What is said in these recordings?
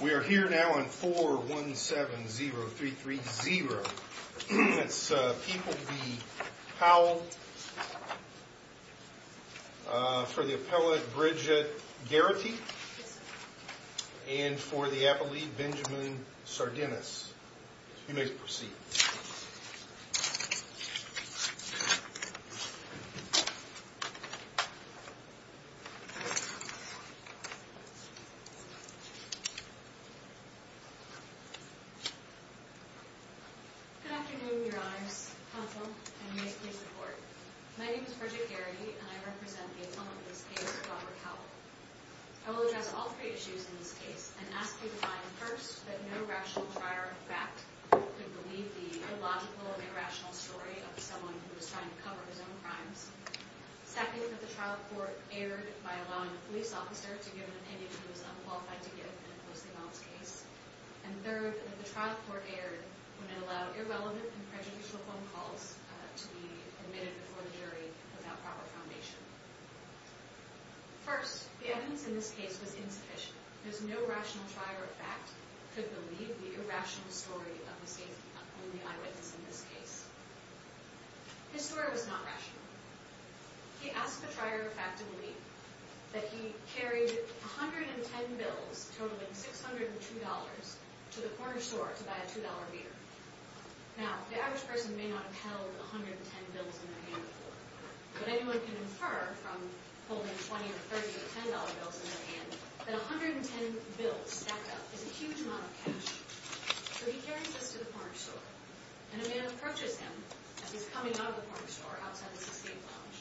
We are here now on 4170330. It's People v. Howell for the appellate Bridget Garrity and for the appellate Benjamin Sardinis. You may proceed. Good afternoon, Your Honors. Counsel, you may please report. My name is Bridget Garrity and I represent the attendant of this case, Robert Howell. I will address all three issues in this case and ask you to find, first, that no rational trier of fact could believe the illogical and irrational story of someone who was trying to cover his own crimes. Second, that the trial court erred by allowing a police officer to give an opinion he was unqualified to give in a closely balanced case. And third, that the trial court erred when it allowed irrelevant and prejudicial phone calls to be admitted before the jury without proper foundation. First, the evidence in this case was insufficient. There's no rational trier of fact could believe the irrational story of the eyewitness in this case. His story was not rational. He asked the trier of fact to believe that he carried 110 bills totaling $602 to the corner store to buy a $2 beer. Now, the average person may not have held 110 bills in their hand before, but anyone can infer from holding 20 or 30 $10 bills in their hand that 110 bills stacked up is a huge amount of cash. So he carries this to the corner store, and a man approaches him as he's coming out of the corner store outside the 16th Lounge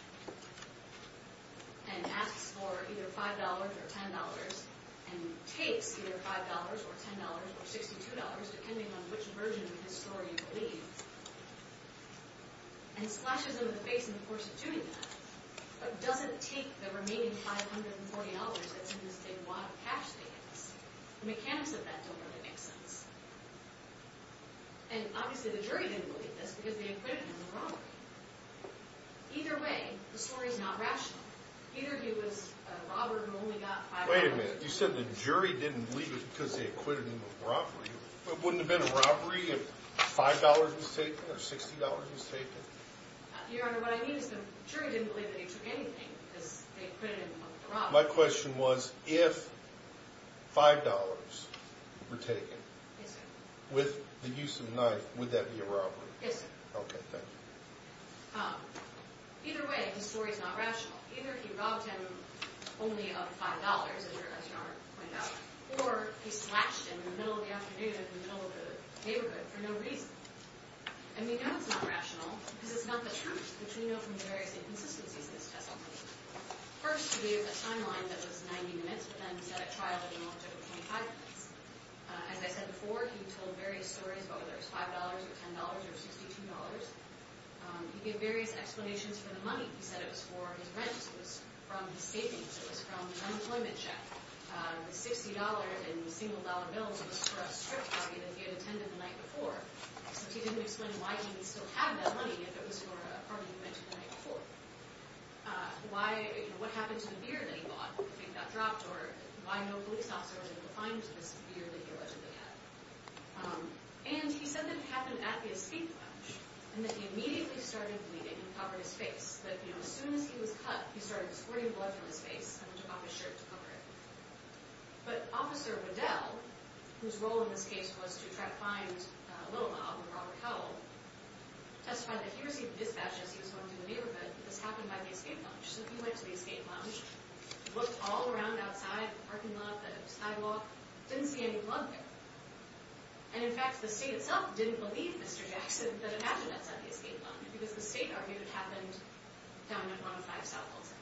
and asks for either $5 or $10 and takes either $5 or $10 or $62, depending on which version of his story he believes, and splashes him in the face in the course of doing that, but doesn't take the remaining $540 that's in this big wad of cash that he has. The mechanics of that don't really make sense. And obviously the jury didn't believe this because they acquitted him of robbery. Either way, the story's not rational. Either he was a robber who only got $5 or $10. Your Honor, what I mean is the jury didn't believe that he took anything because they acquitted him of the robbery. My question was, if $5 were taken with the use of a knife, would that be a robbery? Yes, sir. Okay, thank you. Either way, the story's not rational. Either he robbed him only of $5, as Your Honor pointed out, or he slashed him in the middle of the afternoon in the middle of the neighborhood for no reason. And we know it's not rational because it's not the truth, which we know from the various inconsistencies in his testimony. First, he gave a timeline that was 90 minutes, but then he said at trial that he only took 25 minutes. As I said before, he told various stories about whether it was $5 or $10 or $62. He gave various explanations for the money. He said it was for his rent, it was from his savings, it was from his unemployment check. The $60 in single-dollar bills was for a strip party that he had attended the night before. But he didn't explain why he would still have that money if it was for a party he'd been to the night before. What happened to the beer that he bought when the thing got dropped, or why no police officer was able to find this beer that he allegedly had. And he said that it happened at his feet lunch, and that he immediately started bleeding and covered his face. That as soon as he was cut, he started squirting blood from his face, and then took off his shirt to cover it. But Officer Waddell, whose role in this case was to try to find Little Mob and Robert Howell, testified that he received a dispatch as he was going through the neighborhood, that this happened by the escape lounge. So he went to the escape lounge, looked all around outside, the parking lot, the sidewalk, didn't see any blood there. And in fact, the state itself didn't believe Mr. Jackson that it happened at Sunday's escape lounge. Because the state argued it happened down at 1-5 South Elton.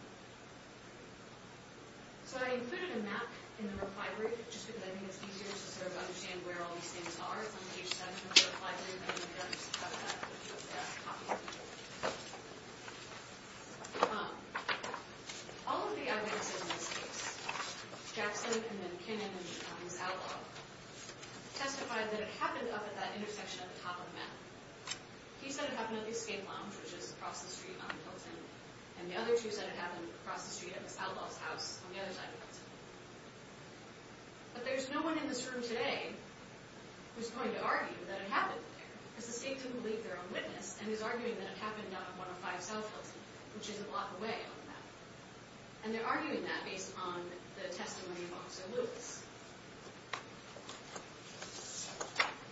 So I included a map in the reply brief, just because I think it's easier to sort of understand where all these things are. It's on page 7 of the reply brief, and I'm going to go ahead and just cut that and put it there. All of the evidence in this case, Jackson and then Kinnan and Ms. Outlaw, testified that it happened up at that intersection at the top of the map. He said it happened at the escape lounge, which is across the street on Elton, and the other two said it happened across the street at Ms. Outlaw's house on the other side of Elton. But there's no one in this room today who's going to argue that it happened there. Because the state didn't believe their own witness, and is arguing that it happened down at 1-5 South Elton, which is a block away on the map. And they're arguing that based on the testimony of Officer Lewis.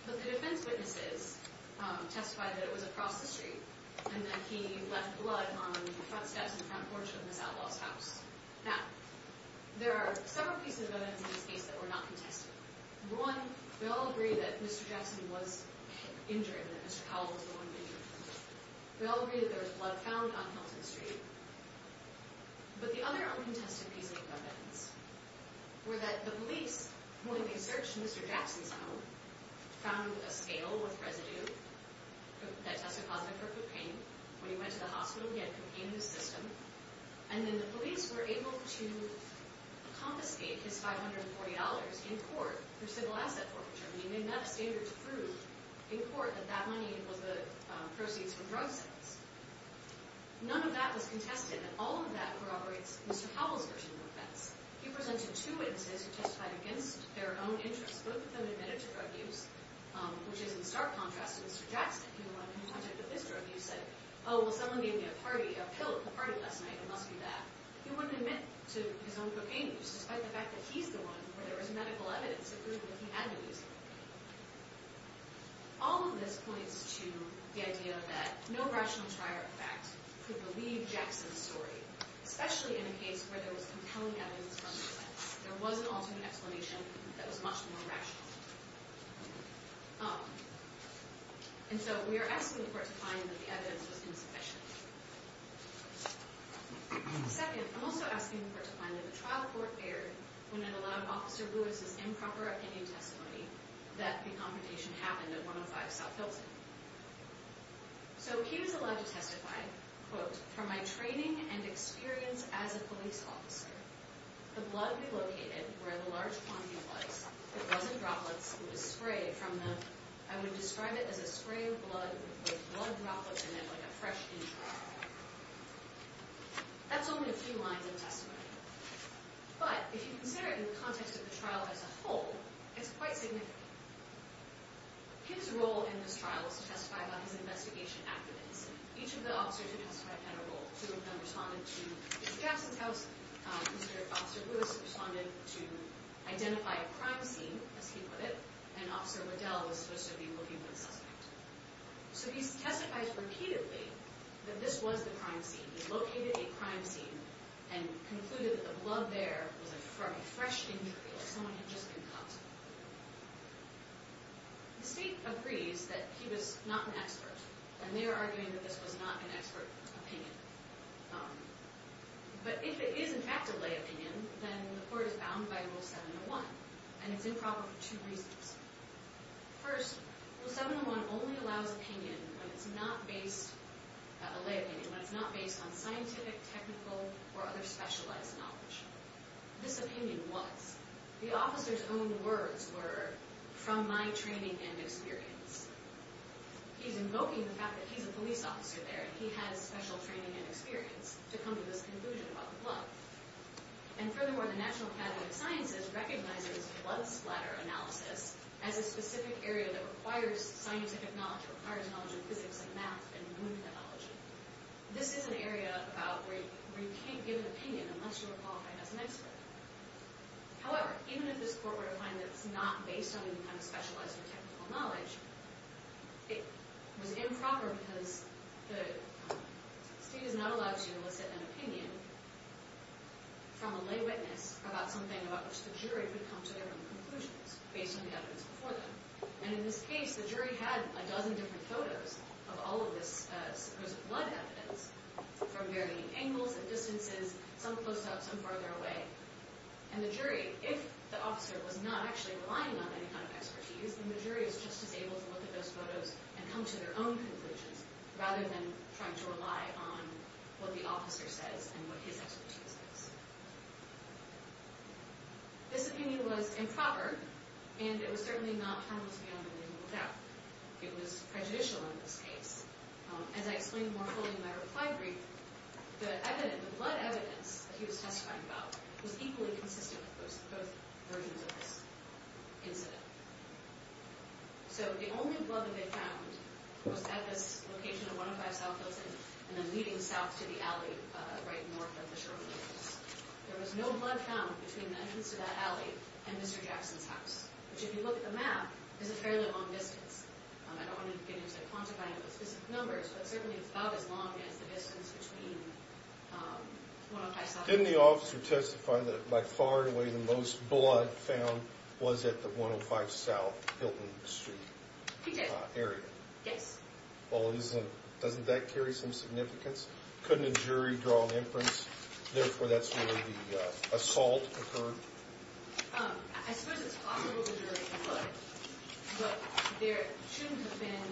But the defense witnesses testified that it was across the street, and that he left blood on the front steps and the front porch of Ms. Outlaw's house. Now, there are several pieces of evidence in this case that were not contested. One, we all agree that Mr. Jackson was injured, and that Mr. Powell was the one who injured him. We all agree that there was blood found on Elton Street. But the other uncontested pieces of evidence were that the police, when they searched Mr. Jackson's home, found a scale with residue that tested positive for foot pain. When he went to the hospital, he had foot pain in the system. And then the police were able to confiscate his $540 in court for civil asset forfeiture. I mean, they met a standard to prove in court that that money was the proceeds from drug sales. None of that was contested, and all of that corroborates Mr. Powell's version of the offense. He presented two witnesses who testified against their own interests. Both of them admitted to drug use, which is in stark contrast to Mr. Jackson. He said, oh, well, someone gave me a pill at the party last night. It must be that. He wouldn't admit to his own cocaine use, despite the fact that he's the one where there was medical evidence that proved that he had been using it. All of this points to the idea that no rational trier of fact could believe Jackson's story, especially in a case where there was compelling evidence from the defense. There was an alternate explanation that was much more rational. And so we are asking the court to find that the evidence was insufficient. Second, I'm also asking the court to find that the trial court erred when it allowed Officer Lewis's improper opinion testimony that the confrontation happened at 105 South Hilton. So he was allowed to testify, quote, from my training and experience as a police officer. The blood we located, where the large quantity was, it wasn't droplets. It was sprayed from the, I would describe it as a spray of blood with blood droplets in it like a fresh tea trough. That's only a few lines of testimony. But if you consider it in the context of the trial as a whole, it's quite significant. His role in this trial was to testify about his investigation activities. Each of the officers who testified had a role. Two of them responded to Mr. Jackson's house. Mr. Officer Lewis responded to identify a crime scene, as he put it. And Officer Waddell was supposed to be looking for the suspect. So he testifies repeatedly that this was the crime scene. He located a crime scene and concluded that the blood there was from a fresh injury or someone had just been cut. The state agrees that he was not an expert. And they are arguing that this was not an expert opinion. But if it is, in fact, a lay opinion, then the court is bound by Rule 701. And it's improper for two reasons. First, Rule 701 only allows opinion when it's not based on scientific, technical, or other specialized knowledge. This opinion was. The officer's own words were, from my training and experience. He's invoking the fact that he's a police officer there and he has special training and experience to come to this conclusion about the blood. And furthermore, the National Academy of Sciences recognizes blood splatter analysis as a specific area that requires scientific knowledge. It requires knowledge of physics and math and wound pathology. This is an area about where you can't give an opinion unless you are qualified as an expert. However, even if this court were to find that it's not based on any kind of specialized or technical knowledge, it was improper because the state is not allowed to elicit an opinion. From a lay witness about something about which the jury would come to their own conclusions based on the evidence before them. And in this case, the jury had a dozen different photos of all of this supposed blood evidence from varying angles and distances, some close up, some farther away. And the jury, if the officer was not actually relying on any kind of expertise, because the jury was just as able to look at those photos and come to their own conclusions rather than trying to rely on what the officer says and what his expertise is. This opinion was improper and it was certainly not harmless beyond a reasonable doubt. It was prejudicial in this case. As I explained more fully in my reply brief, the evidence, the blood evidence that he was testifying about was equally consistent with both versions of this incident. So the only blood that they found was at this location of 105 South Hilton and then leading south to the alley right north of the Sherman Hills. There was no blood found between the entrance to that alley and Mr. Jackson's house, which if you look at the map, is a fairly long distance. I don't want to get into quantifying those numbers, but certainly it's about as long as the distance between 105 South Hilton. Didn't the officer testify that by far and away the most blood found was at the 105 South Hilton Street area? He did, yes. Well, doesn't that carry some significance? Couldn't a jury draw an inference? Therefore, that's where the assault occurred? I suppose it's possible the jury could, but there shouldn't have been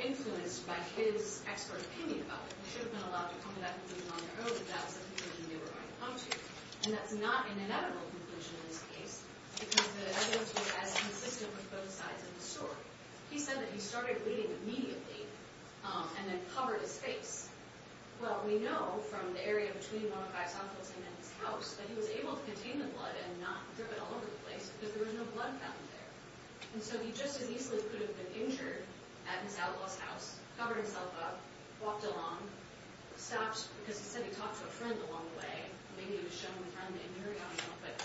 influence by his expert opinion about it. They should have been allowed to come to that conclusion on their own without something they knew they were going to come to. And that's not an inevitable conclusion in this case because the evidence was as consistent with both sides of the story. He said that he started bleeding immediately and then covered his face. Well, we know from the area between 105 South Hilton and his house that he was able to contain the blood and not drip it all over the place because there was no blood found there. And so he just as easily could have been injured at his outlaw's house, covered himself up, walked along, stopped, because he said he talked to a friend along the way, maybe he was showing the friend that he knew or something, but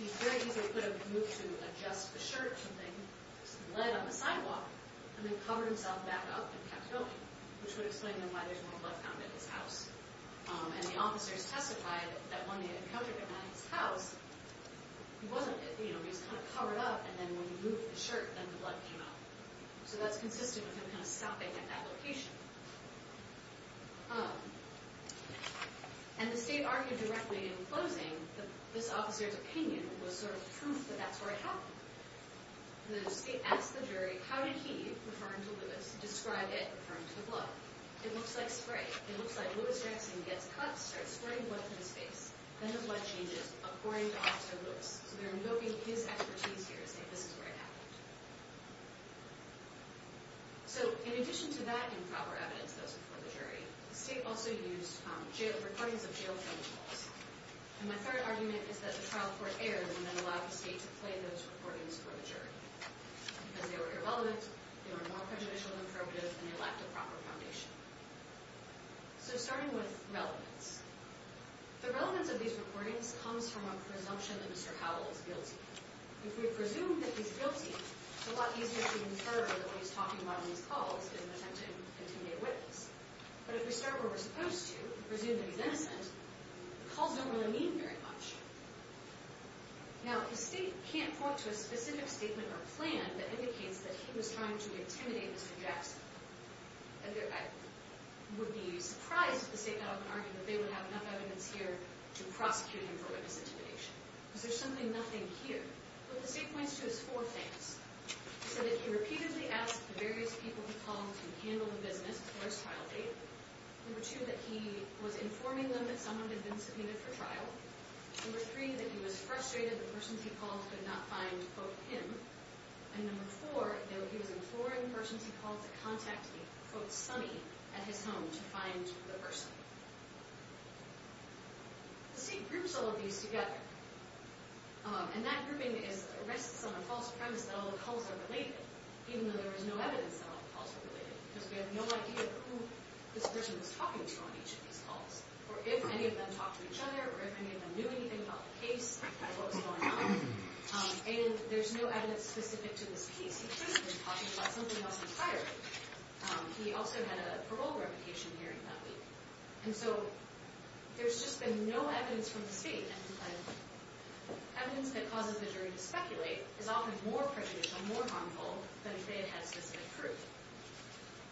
he very easily could have moved to adjust the shirt or something, some lead on the sidewalk, and then covered himself back up and kept going, which would explain to him why there's more blood found at his house. And the officers testified that when they encountered him at his house, he wasn't, you know, he was kind of covered up and then when he moved the shirt, then the blood came out. So that's consistent with him kind of stopping at that location. And the state argued directly in closing that this officer's opinion was sort of proof that that's where it happened. The state asked the jury, how did he, referring to Lewis, describe it, referring to the blood? It looks like spray. It looks like Lewis Jackson gets cut, starts spraying blood to his face, then his blood changes according to Officer Lewis. So they're invoking his expertise here to say this is where it happened. So in addition to that and proper evidence, those before the jury, the state also used recordings of jail filming calls. And my third argument is that the trial court erred and then allowed the state to play those recordings for the jury, because they were irrelevant, they were more prejudicial than probative, and they lacked a proper foundation. So starting with relevance. The relevance of these recordings comes from a presumption that Mr. Howell is guilty. If we presume that he's guilty, it's a lot easier to infer that what he's talking about in these calls is an attempted, intimidated witness. But if we start where we're supposed to, and presume that he's innocent, the calls don't really mean very much. Now, the state can't point to a specific statement or plan that indicates that he was trying to intimidate Mr. Jackson. I would be surprised if the state got up and argued that they would have enough evidence here to prosecute him for witness intimidation. Because there's simply nothing here. What the state points to is four things. It said that he repeatedly asked the various people he called to handle the business before his trial date. Number two, that he was informing them that someone had been subpoenaed for trial. Number three, that he was frustrated that the persons he called could not find, quote, him. And number four, that he was informing the persons he called to contact the, quote, sonny at his home to find the person. The state groups all of these together. And that grouping rests on a false premise that all the calls are related, even though there is no evidence that all the calls are related. Because we have no idea who this person was talking to on each of these calls, or if any of them talked to each other, or if any of them knew anything about the case as to what was going on. And there's no evidence specific to this case. He could have been talking about something else entirely. He also had a parole revocation hearing that week. And so there's just been no evidence from the state. And evidence that causes the jury to speculate is often more prejudicial, more harmful, than if they had had specific proof.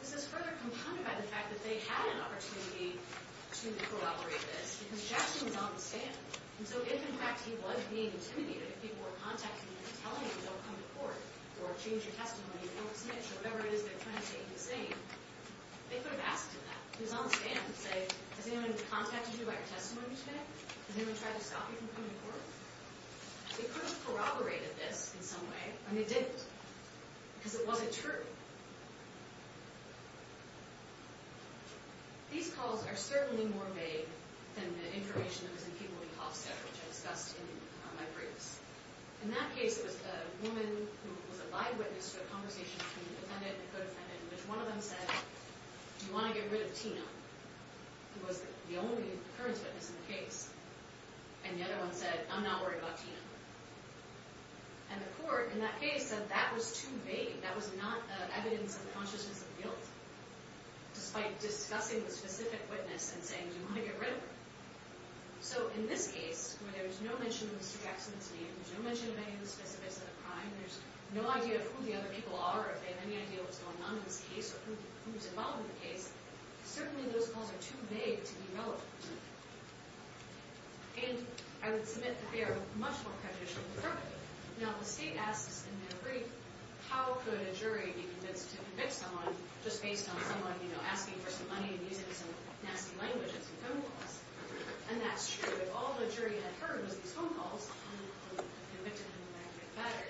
This is further compounded by the fact that they had an opportunity to corroborate this, because Jackson was on the stand. And so if, in fact, he was being intimidated, if people were contacting him and telling him, don't come to court, or change your testimony, or don't submit it, or whatever it is they're trying to take to the stand, they could have asked him that. He was on the stand to say, has anyone contacted you about your testimony today? Has anyone tried to stop you from coming to court? They could have corroborated this in some way, and they didn't. Because it wasn't true. These calls are certainly more vague than the information that was in people in Hofstadter, which I discussed in my briefs. In that case, it was a woman who was a bywitness to a conversation between the defendant and the co-defendant, in which one of them said, do you want to get rid of Tina, who was the only occurrence witness in the case? And the other one said, I'm not worried about Tina. And the court in that case said that was too vague. That was not evidence of the consciousness of guilt, despite discussing the specific witness and saying, do you want to get rid of her? So in this case, where there's no mention of Mr. Jackson's name, there's no mention of any of the specifics of the crime, there's no idea of who the other people are or if they have any idea what's going on in this case or who was involved in the case, certainly those calls are too vague to be relevant. And I would submit that they are much more prejudicial than appropriate. Now, the state asks in their brief, how could a jury be convinced to convict someone just based on someone asking for some money and using some nasty language and some phone calls? And that's true. If all the jury had heard was these phone calls, they would have convicted them and that would have been better.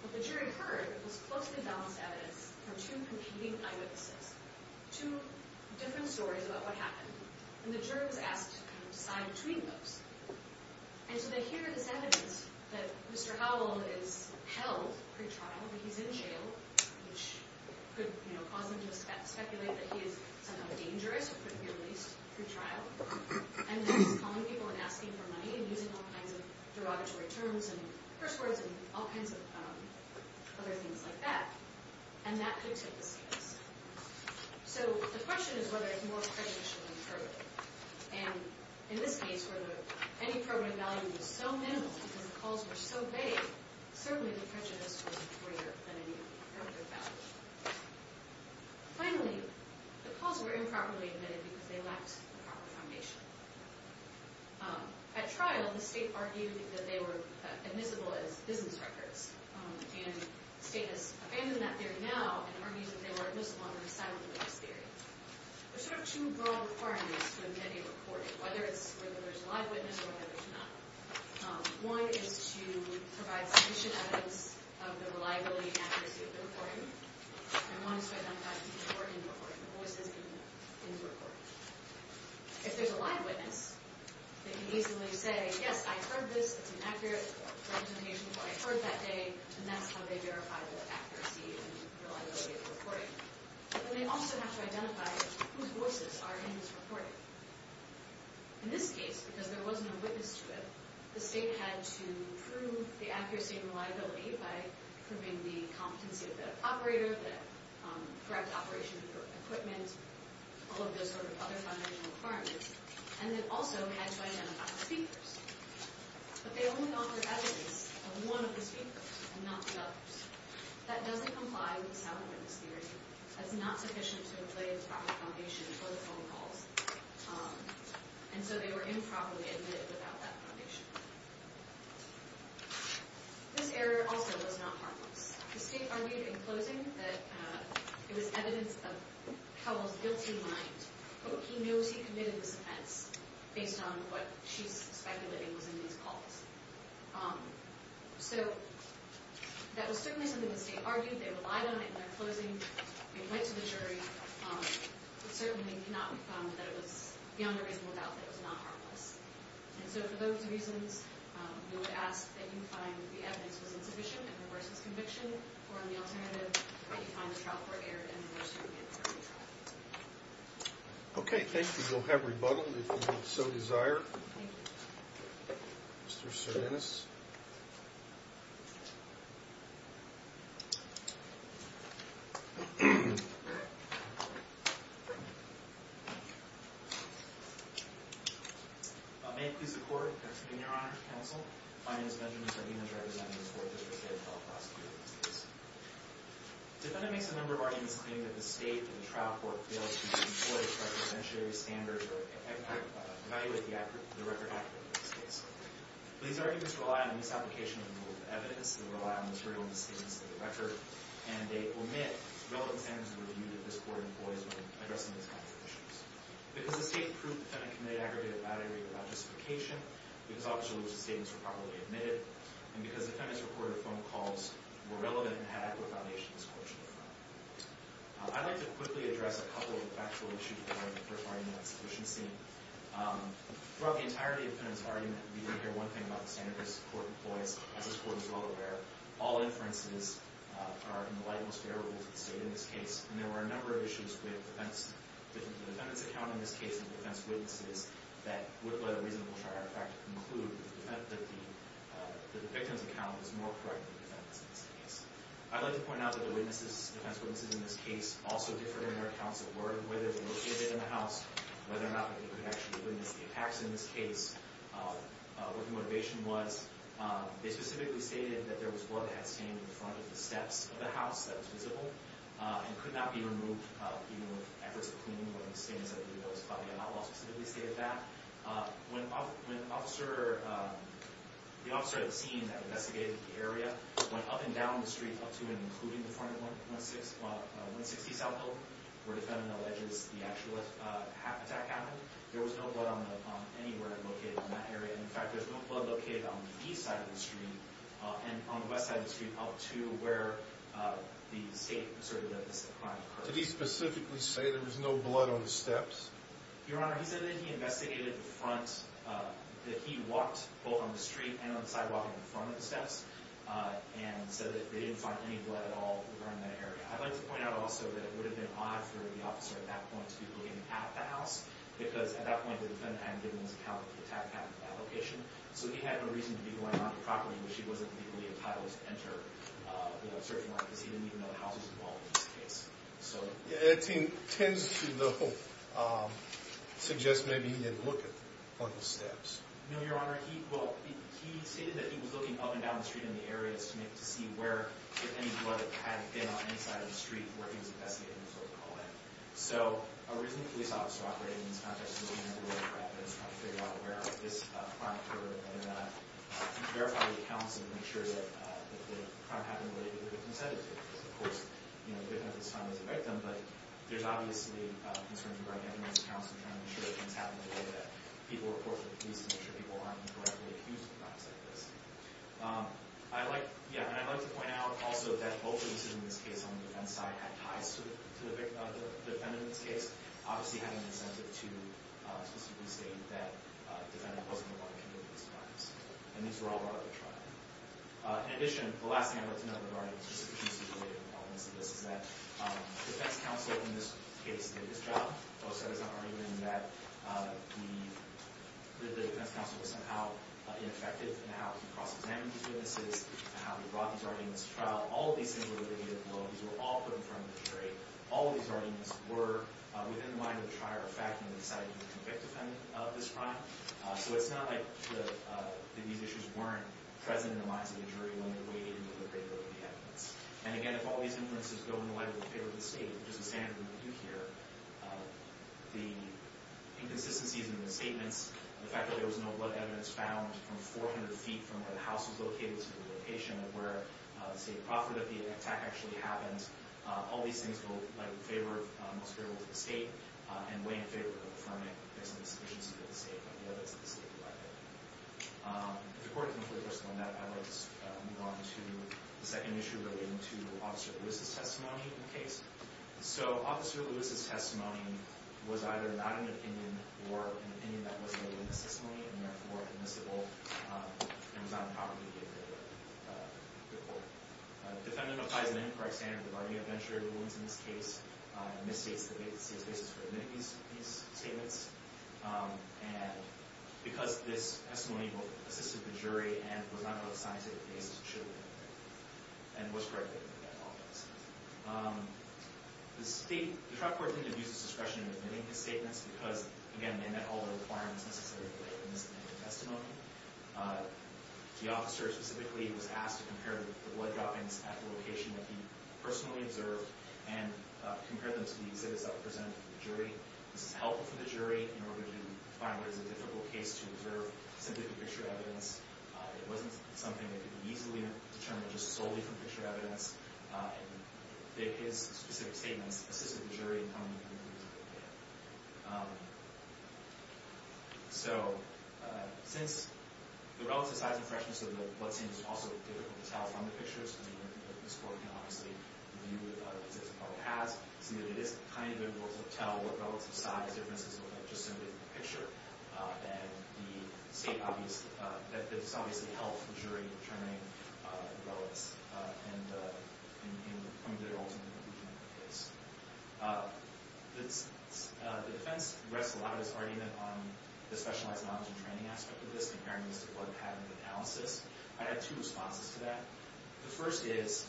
What the jury heard was closely balanced evidence from two competing eyewitnesses, two different stories about what happened. And the jury was asked to decide between those. And so they hear this evidence that Mr. Howell is held pre-trial, that he's in jail, which could cause them to speculate that he is somehow dangerous or could be released pre-trial, and that he's calling people and asking for money and using all kinds of derogatory terms and curse words and all kinds of other things like that. And that could tip the scales. So the question is whether it's more prejudicial than appropriate. And in this case, whether any program value was so minimal because the calls were so vague, certainly the prejudice was greater than any appropriate value. Finally, the calls were improperly admitted because they lacked the proper foundation. At trial, the state argued that they were admissible as business records. And the state has abandoned that theory now and argues that they were admissible on the side of the witness theory. There are sort of two broad requirements for any reporting, whether there's a live witness or whether there's not. One is to provide sufficient evidence of the reliability and accuracy of the reporting. And one is to identify people who are in the reporting, the voices in the reporting. If there's a live witness, they can easily say, yes, I heard this, it's an accurate representation of what I heard that day, but then they also have to identify whose voices are in this reporting. In this case, because there wasn't a witness to it, the state had to prove the accuracy and reliability by proving the competency of the operator, the correct operation of the equipment, all of those sort of other foundational requirements, and it also had to identify the speakers. But they only offered evidence of one of the speakers and not the others. That doesn't comply with the sound witness theory. That's not sufficient to have laid the proper foundation for the phone calls. And so they were improperly admitted without that foundation. This error also was not harmless. The state argued in closing that it was evidence of Cowell's guilty mind, but he knows he committed this offense based on what she's speculating was in these calls. So that was certainly something the state argued. They relied on it in their closing. We went to the jury. It certainly cannot be found that it was beyond a reasonable doubt that it was not harmless. And so for those reasons, we would ask that you find that the evidence was insufficient and reverse this conviction, or on the alternative, that you find the trial court error and reverse your inferred trial. Okay, thank you. We'll have rebuttal if you so desire. Thank you. Mr. Cervantes? May it please the Court. It's a pleasure to be here, Your Honor, Counsel. My name is Benjamin Zahina, representing the Court of Appeal for the Federal Prosecutor's Office. The defendant makes a number of arguments claiming that the state and the trial court failed to employ the representatory standards or evaluate the record accurately in this case. These arguments rely on a misapplication of the rule of evidence. They rely on the material misstatements of the record, and they omit relevant standards of review that this Court employs when addressing these kinds of issues. Because the state proved the defendant committed aggravated battery without justification, because all of the misstatements were properly admitted, and because the defendant's recorded phone calls were relevant and had adequate foundation, this quote should be removed. I'd like to quickly address a couple of factual issues regarding the first argument of sufficiency. Throughout the entirety of the defendant's argument, we didn't hear one thing about the standards this Court employs, as this Court is well aware. All inferences are, in the light of this, favorable to the state in this case. And there were a number of issues with the defendant's account in this case and the defendant's witnesses that would let a reasonable trial artifact conclude that the victim's account was more correct than the defendant's in this case. I'd like to point out that the witnesses, the defense witnesses in this case, also differed in their accounts of work, whether they were seated in the house, whether or not they could actually witness the attacks in this case, what the motivation was. They specifically stated that there was blood that had stained the front of the steps of the house that was visible and could not be removed, even with efforts of cleaning, one of the standards of review that was followed. They did not specifically state that. When the officer at the scene that investigated the area went up and down the street up to and including the front of 160 South Hill, where the defendant alleges the actual attack happened, there was no blood anywhere located on that area. In fact, there's no blood located on the east side of the street and on the west side of the street up to where the state asserted that this crime occurred. Did he specifically say there was no blood on the steps? Your Honor, he said that he investigated the front, that he walked both on the street and on the sidewalk in front of the steps. He said that they didn't find any blood at all around that area. I'd like to point out also that it would have been odd for the officer at that point to be looking at the house because at that point the defendant hadn't given his account of the attack that happened at that location, so he had no reason to be going onto the property, which he wasn't legally entitled to enter, you know, searching like this, even though the house was involved in this case. It tends to, though, suggest maybe he didn't look at the front of the steps. No, Your Honor, he stated that he was looking up and down the street in the areas to see if any blood had been on any side of the street where he was investigating, so to call it. So a reasonable police officer operating in this context would be to figure out where this crime occurred and verify the accounts and make sure that the crime happened related to the consent of the victim. Of course, you know, the victim at this time is a victim, but there's obviously concerns regarding evidence accounts and trying to make sure that things happen in a way that people report to the police and make sure people aren't indirectly accused of crimes like this. I'd like to point out also that both the decision in this case on the defense side had ties to the defendant in this case, obviously having an incentive to specifically state that the defendant wasn't involved in any of these crimes, and these were all brought up at trial. In addition, the last thing I'd like to note regarding specific cases related to all of this is that the defense counsel in this case did his job. Both sides are arguing that the defense counsel was somehow ineffective in how he cross-examined these witnesses and how he brought these arguments to trial. All of these things were the negative qualities that were all put in front of the jury. All of these arguments were within the mind of the trier of fact when they decided to convict the defendant of this crime. So it's not like these issues weren't present in the minds of the jury when they weighed in with the credibility of the evidence. And again, if all these inferences go in the light of the favor of the state, which is the standard that we do here, the inconsistencies in the statements, the fact that there was no blood evidence found from 400 feet from where the house was located to the location of where the state proffered that the attack actually happened, all these things go in the light of the favor of the state and weigh in favor of confirming that there's an insufficiency of the state and the evidence that the state provided. If the court can afford to postpone that, I'd like to move on to the second issue relating to Officer Lewis' testimony in the case. So Officer Lewis' testimony was either not an opinion or an opinion that wasn't made in the testimony and therefore admissible and was not a property of the court. The defendant applies an incorrect standard of the bargaining adventure rulings in this case and misstates the state's basis for admitting these statements. And because this testimony both assisted the jury and was not part of the scientific case, it should have been admitted and was corrected in that office. The state, the trial court didn't abuse its discretion in admitting these statements because, again, they met all the requirements necessarily for the misdemeanor testimony. The officer specifically was asked to compare the blood droppings at the location that he personally observed and compare them to the exhibits that were presented to the jury. This is helpful for the jury in order to find what is a difficult case to observe simply from picture evidence. It wasn't something that could be easily determined just solely from picture evidence. And his specific statements assisted the jury in coming to the conclusion that they had. So since the relative size and freshness of the bloodstains is also difficult to tell from the pictures, and this court can obviously view the exhibits as well as it has, seeing that it is kind of difficult to tell what relative size differences look like just simply from the picture, that this obviously helped the jury in determining the relevance and in coming to their ultimate conclusion of the case. The defense rests a lot of its argument on the specialized knowledge and training aspect of this, comparing this to blood pattern analysis. I had two responses to that. The first is,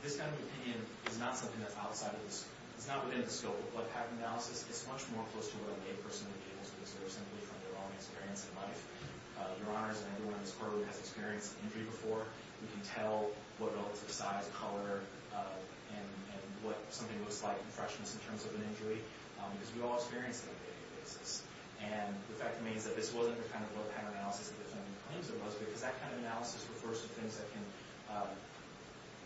this kind of opinion is not something that's outside of the scope. It's not within the scope of blood pattern analysis. It's much more close to what a lay person would be able to consider simply from their own experience in life. Your Honors and everyone in this courtroom has experienced injury before. We can tell what relative size, color, and what something looks like in freshness in terms of an injury because we all experience it on a daily basis. And the fact remains that this wasn't the kind of blood pattern analysis that the defendant claims it was because that kind of analysis refers to things that can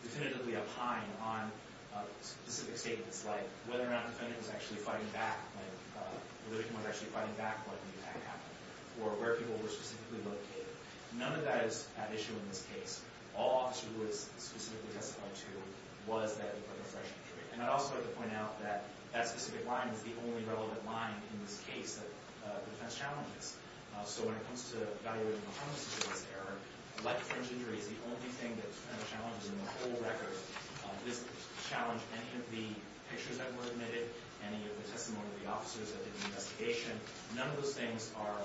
definitively opine on specific statements like whether or not the defendant was actually fighting back when the victim was actually fighting back when the attack happened or where people were specifically located. None of that is at issue in this case. All officers who it's specifically testified to was that it was a fresh injury. And I'd also like to point out that that specific line is the only relevant line in this case that the defense challenges. So when it comes to evaluating the homicidalized error, life-threatened injury is the only thing that's kind of challenged in the whole record. This challenged any of the pictures that were admitted, any of the testimony of the officers that did the investigation. None of those things are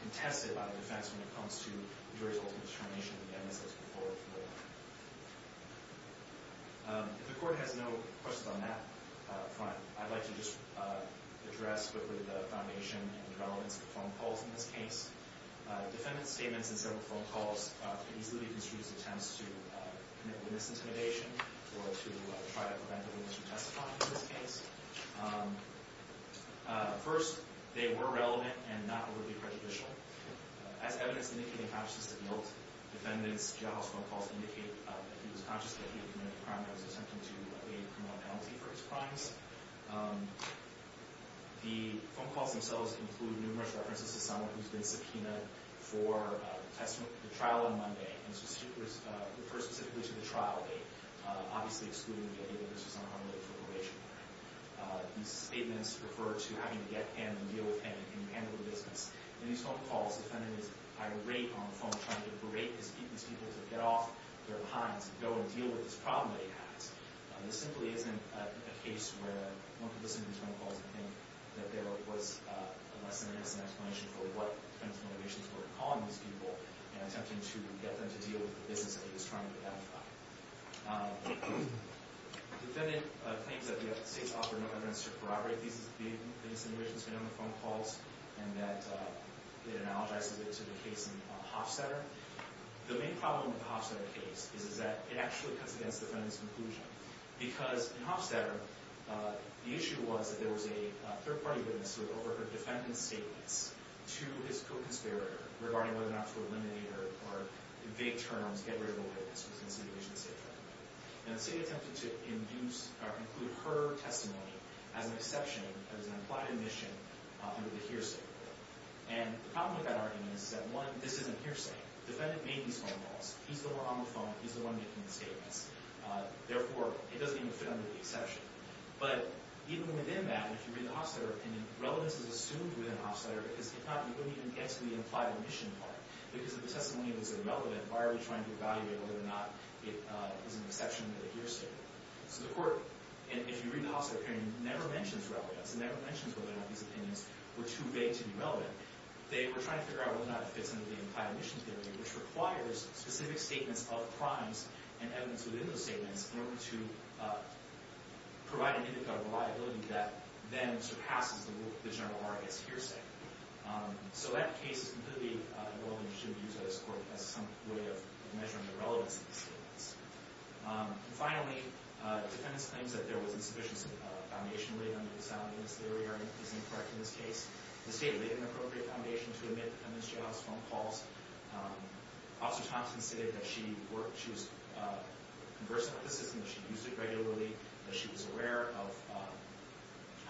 contested by the defense when it comes to the jury's ultimate determination that the evidence was before the floor. If the court has no questions on that front, I'd like to just address quickly the foundation and the relevance of phone calls in this case. Defendant's statements and several phone calls can easily be construed as attempts to commit witness intimidation or to try to prevent a witness from testifying in this case. First, they were relevant and not overly prejudicial. As evidence indicating consciousness of guilt, defendants' jailhouse phone calls indicate that he was conscious that he had committed a crime and was attempting to lay a criminal penalty for his crimes. The phone calls themselves include numerous references to someone who's been subpoenaed for the trial on Monday and refers specifically to the trial date, obviously excluding the idea that this was on a harm-related probation plan. These statements refer to having to get him and deal with him and handle the business. In these phone calls, defendant is, at a higher rate on the phone, trying to berate these people to get off their hinds and go and deal with this problem that he has. This simply isn't a case where one could listen to these phone calls and think that there was a less than innocent explanation for what defense motivations were to call on these people and attempting to get them to deal with the business that he was trying to identify. Defendant claims that the United States offered no evidence to corroborate these insinuations made on the phone calls and that it analogizes it to the case in Hofstadter. The main problem with the Hofstadter case is that it actually cuts against the defendant's conclusion because in Hofstadter, the issue was that there was a third-party witness who overheard defendant's statements to his co-conspirator regarding whether or not to eliminate or, in vague terms, get rid of a witness who was an insinuation statement. And the city attempted to include her testimony as an exception, as an implied admission, under the hearsay. And the problem with that argument is that, one, this isn't hearsay. The defendant made these phone calls. He's the one on the phone. He's the one making the statements. Therefore, it doesn't even fit under the exception. But even within that, if you read the Hofstadter opinion, relevance is assumed within Hofstadter because if not, you don't even get to the implied admission part. Because if the testimony was irrelevant, why are we trying to evaluate whether or not it is an exception to the hearsay? So the court, if you read the Hofstadter opinion, never mentions relevance. It never mentions whether or not these opinions were too vague to be relevant. They were trying to figure out whether or not it fits under the implied admission theory, which requires specific statements of crimes and evidence within those statements in order to provide an indicator of reliability that then surpasses the general arguments hearsay. So that case is completely irrelevant and should be used by this court as some way of measuring the relevance of these statements. And finally, defendants' claims that there was insufficient foundation laid under the sound evidence theory are incorrect in this case. The state laid an appropriate foundation to admit the defendant's jailhouse phone calls. Officer Thompson stated that she worked, she was conversant with the system, that she used it regularly, that she was aware of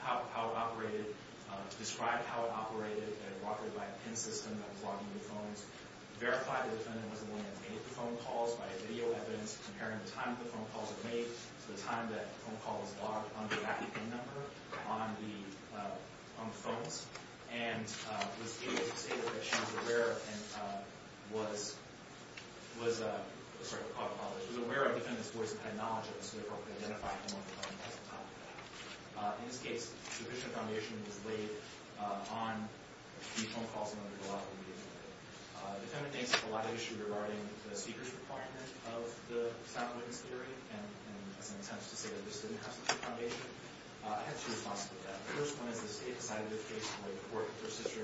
how it operated, described how it operated, that it operated by a PIN system that was logging the phones, verified the defendant wasn't the one that made the phone calls by video evidence, comparing the time the phone calls were made to the time that the phone call was logged on the active PIN number on the phones, and was able to say that she was aware and was aware of the defendant's voice and had knowledge of this so they could identify him on the phone at the time. In this case, sufficient foundation was laid on these phone calls and under the law. The defendant thinks there's a lot of issue regarding the speaker's requirement of the sound witness theory, and has an intent to say that this didn't have sufficient foundation. I have two responses to that. The first one is the state decided in this case to lay the court that her sister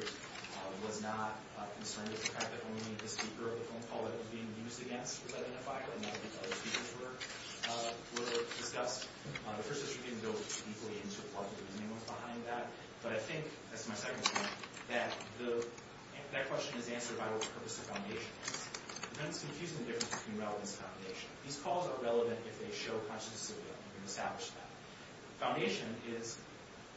was not concerned with the fact that only the speaker of the phone call that was being used against the defendant by another speaker were discussed. Her sister didn't go deeply into what the reasoning was behind that. But I think, that's my second point, that that question is answered by what purpose the foundation is. The defendant's confusing the difference between relevance and foundation. These calls are relevant if they show conscientious civility. You can establish that. Foundation is,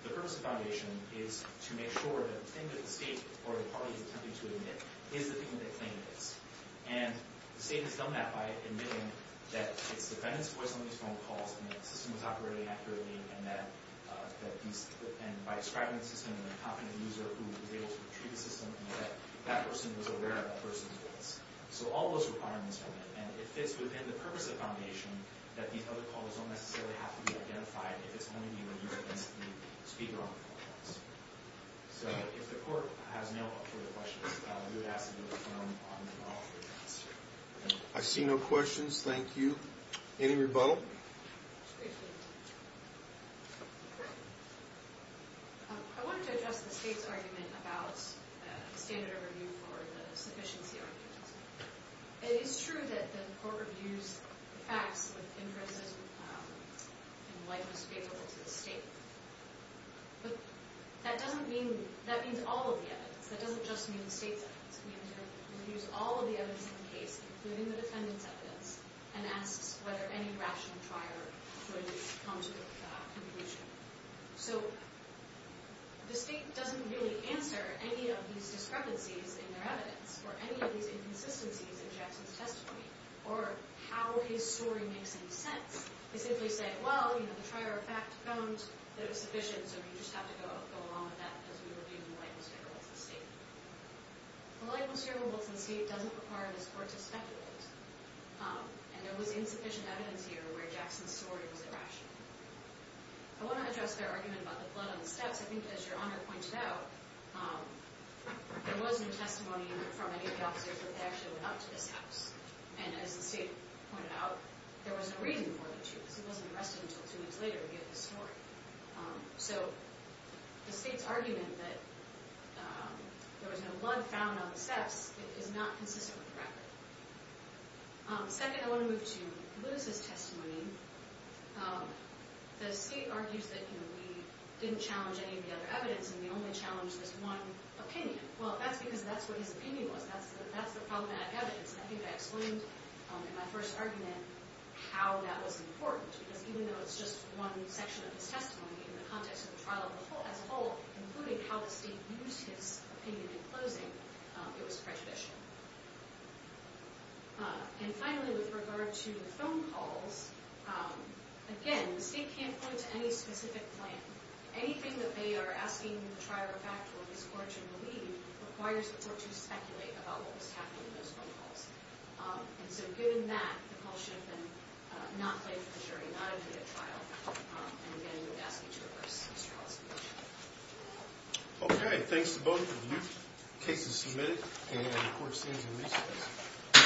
the purpose of foundation is to make sure that the thing that the state or the party is attempting to admit is the thing that they claim it is. And the state has done that by admitting that it's the defendant's voice on these phone calls and that the system was operating accurately and that these, and by describing the system in a confident user who was able to retrieve the system and that that person was aware of that person's voice. So all those requirements are met. And it fits within the purpose of foundation that these other calls don't necessarily have to be identified if it's only being used against the speaker on the phone calls. So if the court has no further questions, we would ask that you confirm on the law for your answer. I see no questions. Thank you. Any rebuttal? I wanted to address the state's argument about the standard of review for the sufficiency argument. It is true that the court reviews the facts with inferences in light of what's favorable to the state. But that doesn't mean, that means all of the evidence. That doesn't just mean the state's evidence. We use all of the evidence in the case, including the defendant's evidence, and ask whether any rational trier would come to a conclusion. So the state doesn't really answer any of these discrepancies in their evidence or any of these inconsistencies in Jackson's testimony or how his story makes any sense. They simply say, well, the trier of fact found that it was sufficient, so we just have to go along with that as we review in light of what's favorable to the state. In light of what's favorable to the state, it doesn't require this court to speculate. And there was insufficient evidence here where Jackson's story was irrational. I want to address their argument about the blood on the steps. I think, as Your Honor pointed out, there was no testimony from any of the officers that they actually went out to this house. And as the state pointed out, there was no reason for the two, because he wasn't arrested until two weeks later to give his story. So the state's argument that there was no blood found on the steps is not consistent with the record. Second, I want to move to Lewis's testimony. The state argues that we didn't challenge any of the other evidence, and we only challenged this one opinion. Well, that's because that's what his opinion was. That's the problematic evidence. And I think I explained in my first argument how that was important. Because even though it's just one section of his testimony, in the context of the trial as a whole, including how the state used his opinion in closing, it was prejudicial. And finally, with regard to the phone calls, again, the state can't point to any specific plan. Anything that they are asking in the trial or fact will be scorched and deleted requires the court to speculate about what was happening in those phone calls. And so given that, the call should have been not played for the jury, not a data trial. And again, we would ask you to reverse these trials if you wish. OK. Thanks to both of you. The case is submitted. And the court stays in recess.